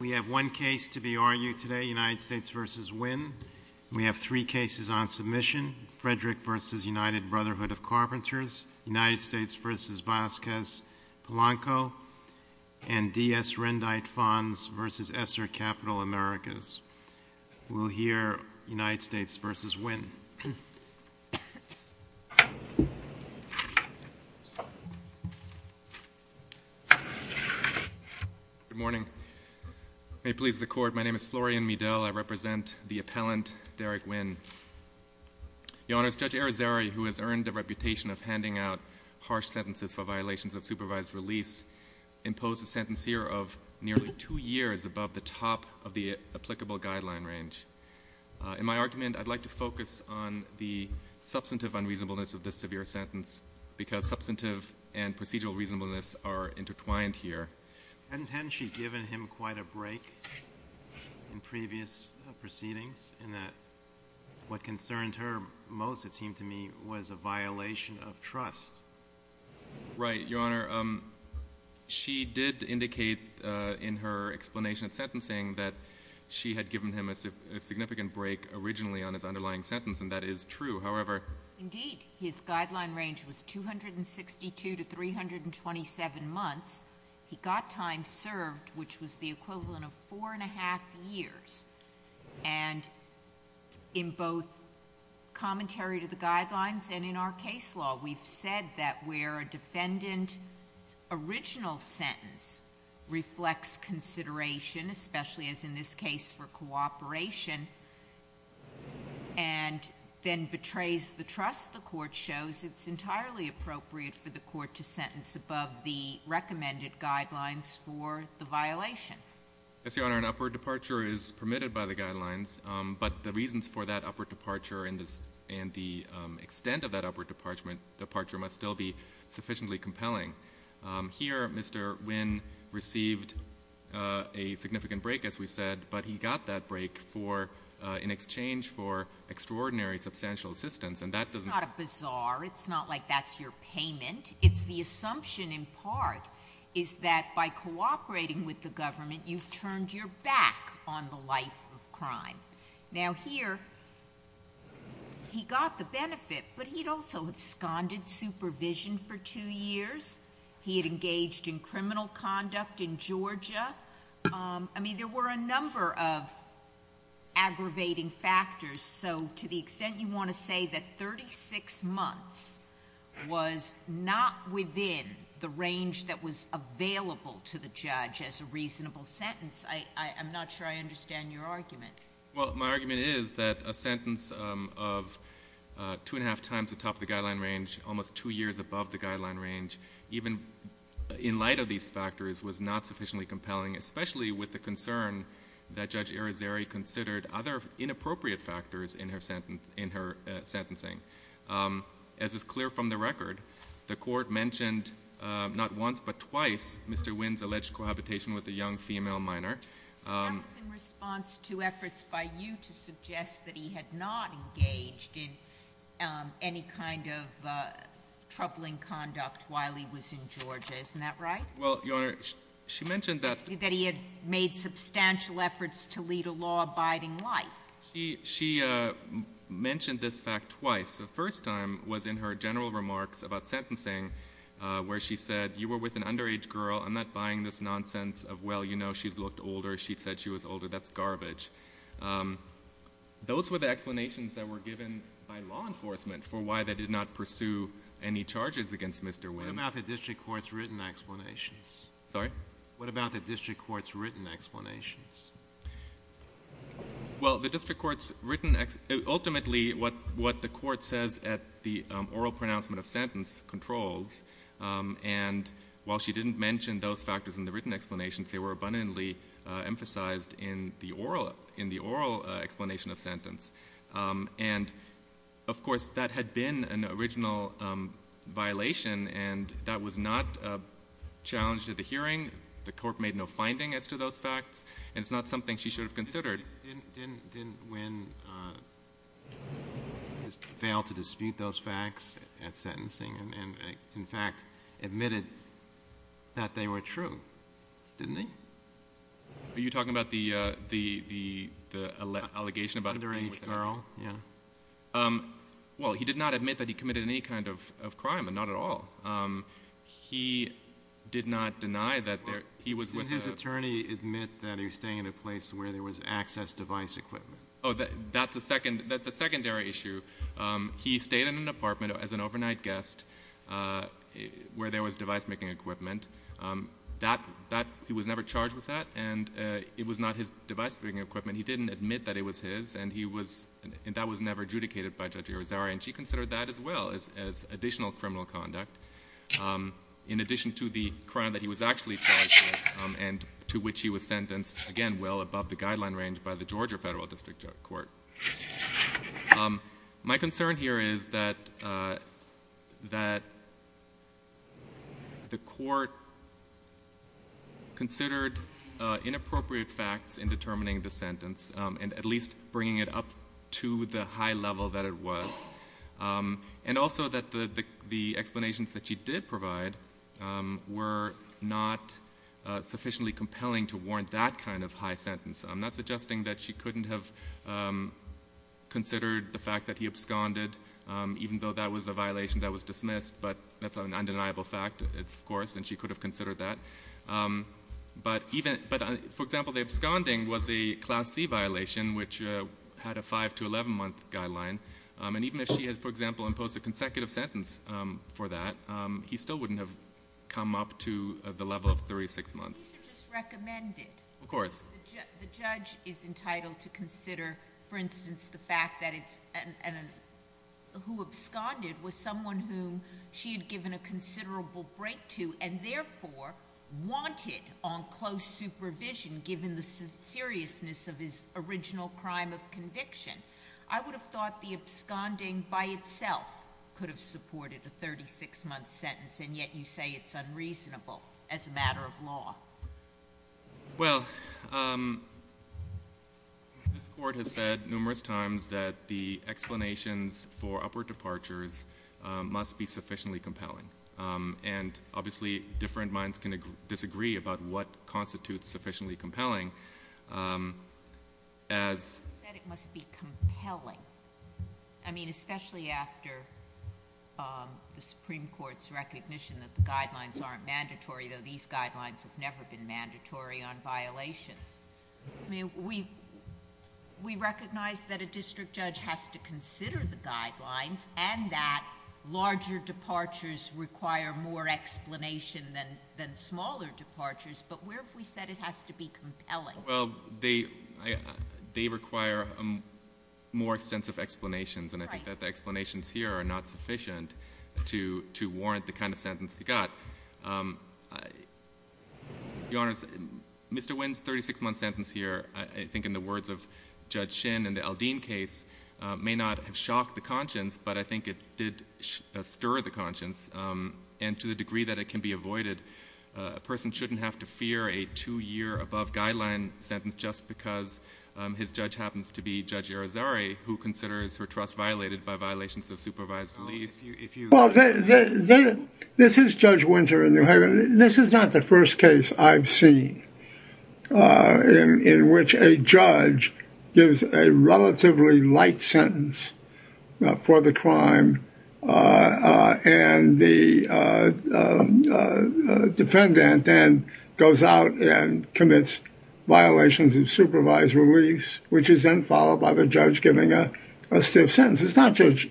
We have one case to be argued today, United States v. Wynne. We have three cases on submission, Frederick v. United Brotherhood of Carpenters, United States v. Vasquez-Polanco, and D.S. Rendite Fonz v. Esser Capital Americas. We'll hear United States v. Wynne. Good morning. May it please the court, my name is Florian Medell. I represent the appellant, Derek Wynne. Your Honor, Judge Arizari, who has earned the reputation of handing out harsh sentences for violations of supervised release, imposed a sentence here of nearly two years above the top of the applicable guideline range. In my argument, I'd like to focus on the substantive unreasonableness of this severe sentence because substantive and procedural reasonableness are intertwined here. Hadn't she given him quite a break in previous proceedings in that what concerned her most, it seemed to me, was a violation of trust? Right, Your Honor. Your Honor, she did indicate in her explanation of sentencing that she had given him a significant break originally on his underlying sentence, and that is true. Indeed, his guideline range was 262 to 327 months. He got time served, which was the equivalent of four and a half years. And in both commentary to the guidelines and in our case law, we've said that where a defendant's original sentence reflects consideration, especially as in this case for cooperation, and then betrays the trust the court shows, it's entirely appropriate for the court to sentence above the recommended guidelines for the violation. Yes, Your Honor, an upward departure is permitted by the guidelines, but the reasons for that upward departure and the extent of that upward departure must still be sufficiently compelling. Here, Mr. Wynn received a significant break, as we said, but he got that break in exchange for extraordinary substantial assistance, and that doesn't... It's not a bizarre. It's not like that's your payment. It's the assumption in part is that by cooperating with the government, you've turned your back on the life of crime. Now, here, he got the benefit, but he'd also absconded supervision for two years. He had engaged in criminal conduct in Georgia. I mean, there were a number of aggravating factors, so to the extent you want to say that 36 months was not within the range that was available to the judge as a reasonable sentence, I'm not sure I understand your argument. Well, my argument is that a sentence of two and a half times the top of the guideline range, almost two years above the guideline range, even in light of these factors, was not sufficiently compelling, especially with the concern that Judge Irizarry considered other inappropriate factors in her sentencing. As is clear from the record, the court mentioned not once but twice Mr. Wynn's alleged cohabitation with a young female minor. That was in response to efforts by you to suggest that he had not engaged in any kind of troubling conduct while he was in Georgia. Isn't that right? Well, Your Honor, she mentioned that. That he had made substantial efforts to lead a law-abiding life. She mentioned this fact twice. The first time was in her general remarks about sentencing, where she said, you were with an underage girl. I'm not buying this nonsense of, well, you know, she looked older. She said she was older. That's garbage. Those were the explanations that were given by law enforcement for why they did not pursue any charges against Mr. Wynn. What about the district court's written explanations? Sorry? What about the district court's written explanations? Well, the district court's written ultimately what the court says at the oral pronouncement of sentence controls. And while she didn't mention those factors in the written explanations, And, of course, that had been an original violation, and that was not challenged at the hearing. The court made no finding as to those facts, and it's not something she should have considered. Didn't Wynn fail to dispute those facts at sentencing and, in fact, admitted that they were true, didn't he? Are you talking about the allegation about the underage girl? Yeah. Well, he did not admit that he committed any kind of crime, and not at all. He did not deny that he was with a — Well, didn't his attorney admit that he was staying at a place where there was access device equipment? Oh, that's a secondary issue. He stayed in an apartment as an overnight guest where there was device-making equipment. He was never charged with that, and it was not his device-making equipment. He didn't admit that it was his, and that was never adjudicated by Judge Irizarry, and she considered that as well as additional criminal conduct in addition to the crime that he was actually charged with and to which he was sentenced, again, well above the guideline range by the Georgia Federal District Court. My concern here is that the court considered inappropriate facts in determining the sentence and at least bringing it up to the high level that it was, and also that the explanations that she did provide were not sufficiently compelling to warrant that kind of high sentence. I'm not suggesting that she couldn't have considered the fact that he absconded, even though that was a violation that was dismissed, but that's an undeniable fact, of course, and she could have considered that. But, for example, the absconding was a Class C violation, which had a 5- to 11-month guideline, and even if she had, for example, imposed a consecutive sentence for that, he still wouldn't have come up to the level of 36 months. Could you please just recommend it? Of course. The judge is entitled to consider, for instance, the fact that it's who absconded was someone whom she had given a considerable break to and therefore wanted on close supervision given the seriousness of his original crime of conviction. I would have thought the absconding by itself could have supported a 36-month sentence, and yet you say it's unreasonable as a matter of law. Well, this Court has said numerous times that the explanations for upward departures must be sufficiently compelling, and obviously different minds can disagree about what constitutes sufficiently compelling. You said it must be compelling. I mean, especially after the Supreme Court's recognition that the guidelines aren't mandatory, though these guidelines have never been mandatory on violations. I mean, we recognize that a district judge has to consider the guidelines and that larger departures require more explanation than smaller departures, but where have we said it has to be compelling? Well, they require more extensive explanations, and I think that the explanations here are not sufficient to warrant the kind of sentence you got. Your Honors, Mr. Wynn's 36-month sentence here, I think in the words of Judge Shin in the Aldine case, may not have shocked the conscience, but I think it did stir the conscience, and to the degree that it can be avoided, a person shouldn't have to fear a two-year-above-guideline sentence just because his judge happens to be Judge Irizarry, who considers her trust violated by violations of supervised lease. Well, this is Judge Winter in New Haven. This is not the first case I've seen in which a judge gives a relatively light sentence for the crime, and the defendant then goes out and commits violations of supervised release, which is then followed by the judge giving a stiff sentence. It's not just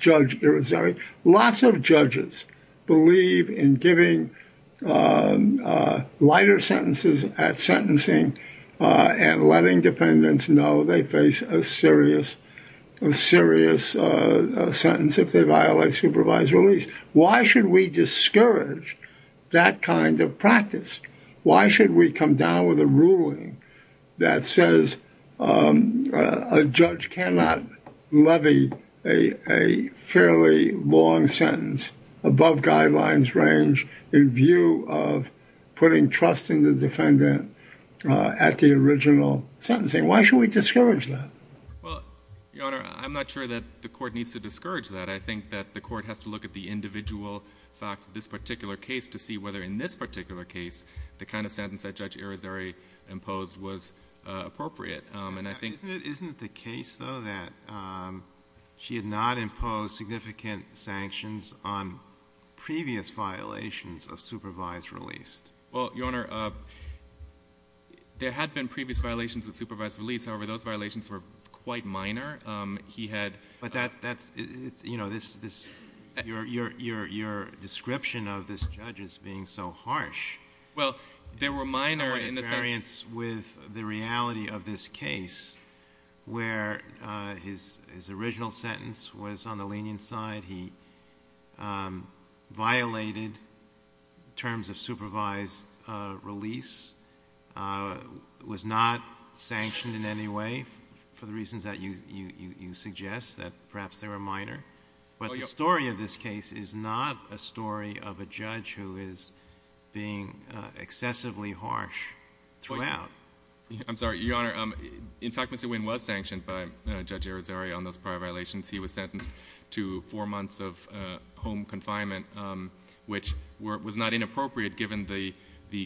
Judge Irizarry. Lots of judges believe in giving lighter sentences at sentencing and letting defendants know they face a serious sentence if they violate supervised release. Why should we discourage that kind of practice? Why should we come down with a ruling that says a judge cannot levy a fairly long sentence above guidelines range in view of putting trust in the defendant at the original sentencing? Why should we discourage that? Well, Your Honor, I'm not sure that the court needs to discourage that. I think that the court has to look at the individual facts of this particular case to see whether in this particular case the kind of sentence that Judge Irizarry imposed was appropriate. Isn't it the case, though, that she had not imposed significant sanctions on previous violations of supervised release? Well, Your Honor, there had been previous violations of supervised release. However, those violations were quite minor. But your description of this judge as being so harsh is in no way in variance with the reality of this case. Where his original sentence was on the lenient side, he violated terms of supervised release, was not sanctioned in any way for the reasons that you suggest, that perhaps they were minor. But the story of this case is not a story of a judge who is being excessively harsh throughout. I'm sorry, Your Honor. In fact, Mr. Winn was sanctioned by Judge Irizarry on those prior violations. He was sentenced to four months of home confinement, which was not inappropriate given the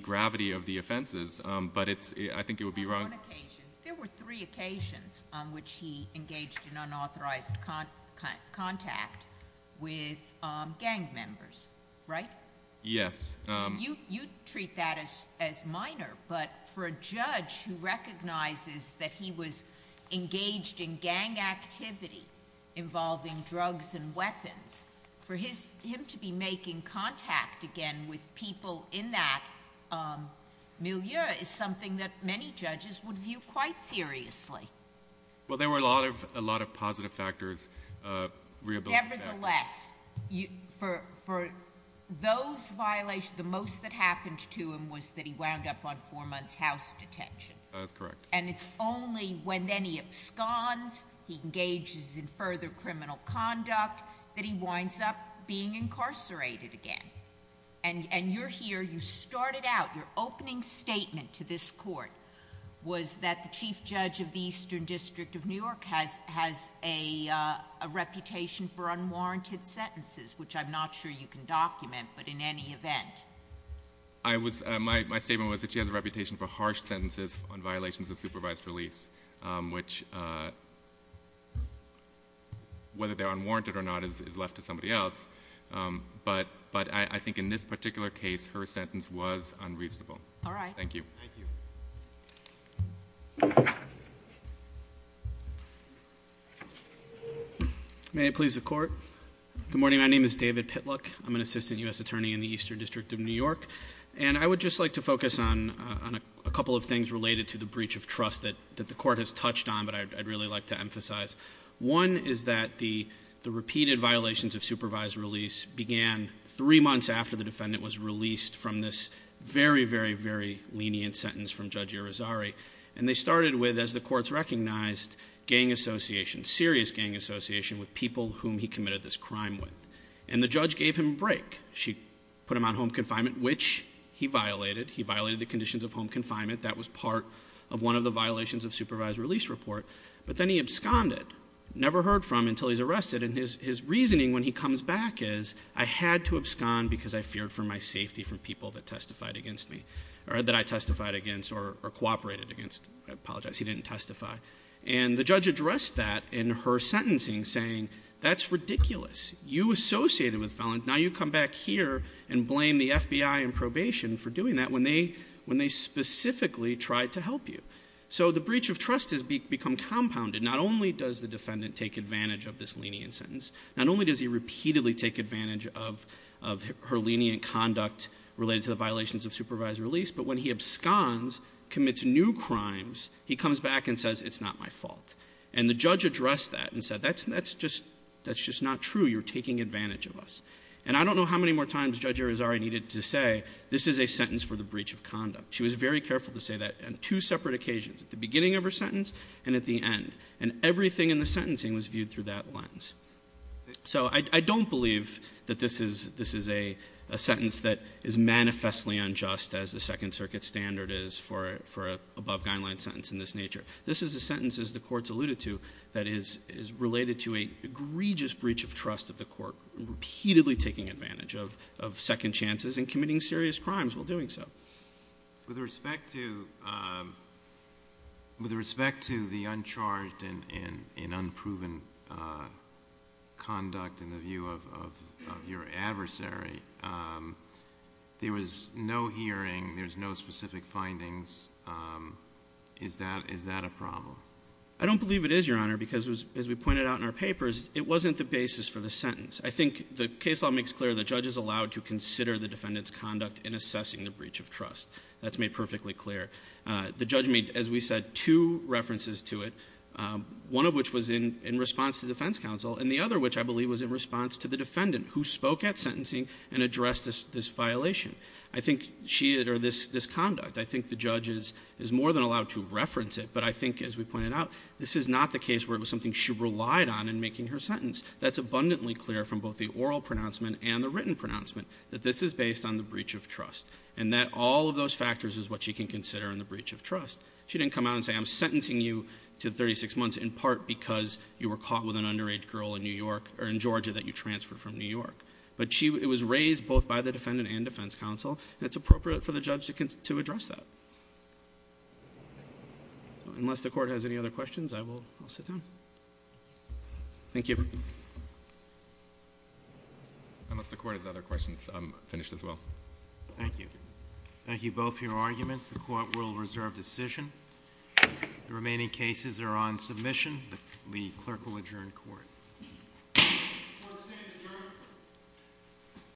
gravity of the offenses. But I think it would be wrong. On one occasion. There were three occasions on which he engaged in unauthorized contact with gang members, right? Yes. You treat that as minor, but for a judge who recognizes that he was engaged in gang activity involving drugs and weapons, for him to be making contact again with people in that milieu is something that many judges would view quite seriously. Well, there were a lot of positive factors. Nevertheless, for those violations, the most that happened to him was that he wound up on four months house detention. That's correct. And it's only when then he absconds, he engages in further criminal conduct, that he winds up being incarcerated again. And you're here, you started out. Your opening statement to this court was that the Chief Judge of the Eastern District of New York has a reputation for unwarranted sentences, which I'm not sure you can document, but in any event. My statement was that she has a reputation for harsh sentences on violations of supervised release, which whether they're unwarranted or not is left to somebody else. But I think in this particular case, her sentence was unreasonable. All right. Thank you. Thank you. May I please the court? Good morning. My name is David Pitluck. I'm an Assistant U.S. Attorney in the Eastern District of New York. And I would just like to focus on a couple of things related to the breach of trust that the court has touched on, but I'd really like to emphasize. One is that the repeated violations of supervised release began three months after the defendant was released from this very, very, very lenient sentence from Judge Irizarry. And they started with, as the courts recognized, gang association, serious gang association with people whom he committed this crime with. And the judge gave him a break. She put him on home confinement, which he violated. He violated the conditions of home confinement. That was part of one of the violations of supervised release report. But then he absconded, never heard from until he's arrested. And his reasoning when he comes back is, I had to abscond because I feared for my safety from people that testified against me, or that I testified against or cooperated against. I apologize. He didn't testify. And the judge addressed that in her sentencing, saying, that's ridiculous. You associated with felons. Now you come back here and blame the FBI in probation for doing that when they specifically tried to help you. So the breach of trust has become compounded. Not only does the defendant take advantage of this lenient sentence, not only does he repeatedly take advantage of her lenient conduct related to the violations of supervised release, but when he absconds, commits new crimes, he comes back and says, it's not my fault. And the judge addressed that and said, that's just not true. You're taking advantage of us. And I don't know how many more times Judge Irizarry needed to say, this is a sentence for the breach of conduct. She was very careful to say that. And two separate occasions, at the beginning of her sentence and at the end. And everything in the sentencing was viewed through that lens. So I don't believe that this is a sentence that is manifestly unjust, as the Second Circuit standard is for an above-guideline sentence in this nature. This is a sentence, as the Court's alluded to, that is related to an egregious breach of trust of the Court, repeatedly taking advantage of second chances and committing serious crimes while doing so. With respect to the uncharged and unproven conduct in the view of your adversary, there was no hearing, there was no specific findings. Is that a problem? I don't believe it is, Your Honor, because as we pointed out in our papers, it wasn't the basis for the sentence. I think the case law makes clear the judge is allowed to consider the defendant's conduct in assessing the breach of trust. That's made perfectly clear. The judge made, as we said, two references to it. One of which was in response to defense counsel. And the other, which I believe was in response to the defendant, who spoke at sentencing and addressed this violation. I think she, or this conduct, I think the judge is more than allowed to reference it. But I think, as we pointed out, this is not the case where it was something she relied on in making her sentence. That's abundantly clear from both the oral pronouncement and the written pronouncement that this is based on the breach of trust. And that all of those factors is what she can consider in the breach of trust. She didn't come out and say, I'm sentencing you to 36 months in part because you were caught with an underage girl in Georgia that you transferred from New York. But it was raised both by the defendant and defense counsel. And it's appropriate for the judge to address that. Unless the court has any other questions, I will sit down. Thank you. Unless the court has other questions, I'm finished as well. Thank you. Thank you both for your arguments. The court will reserve decision. The remaining cases are on submission. The clerk will adjourn court. Court is adjourned.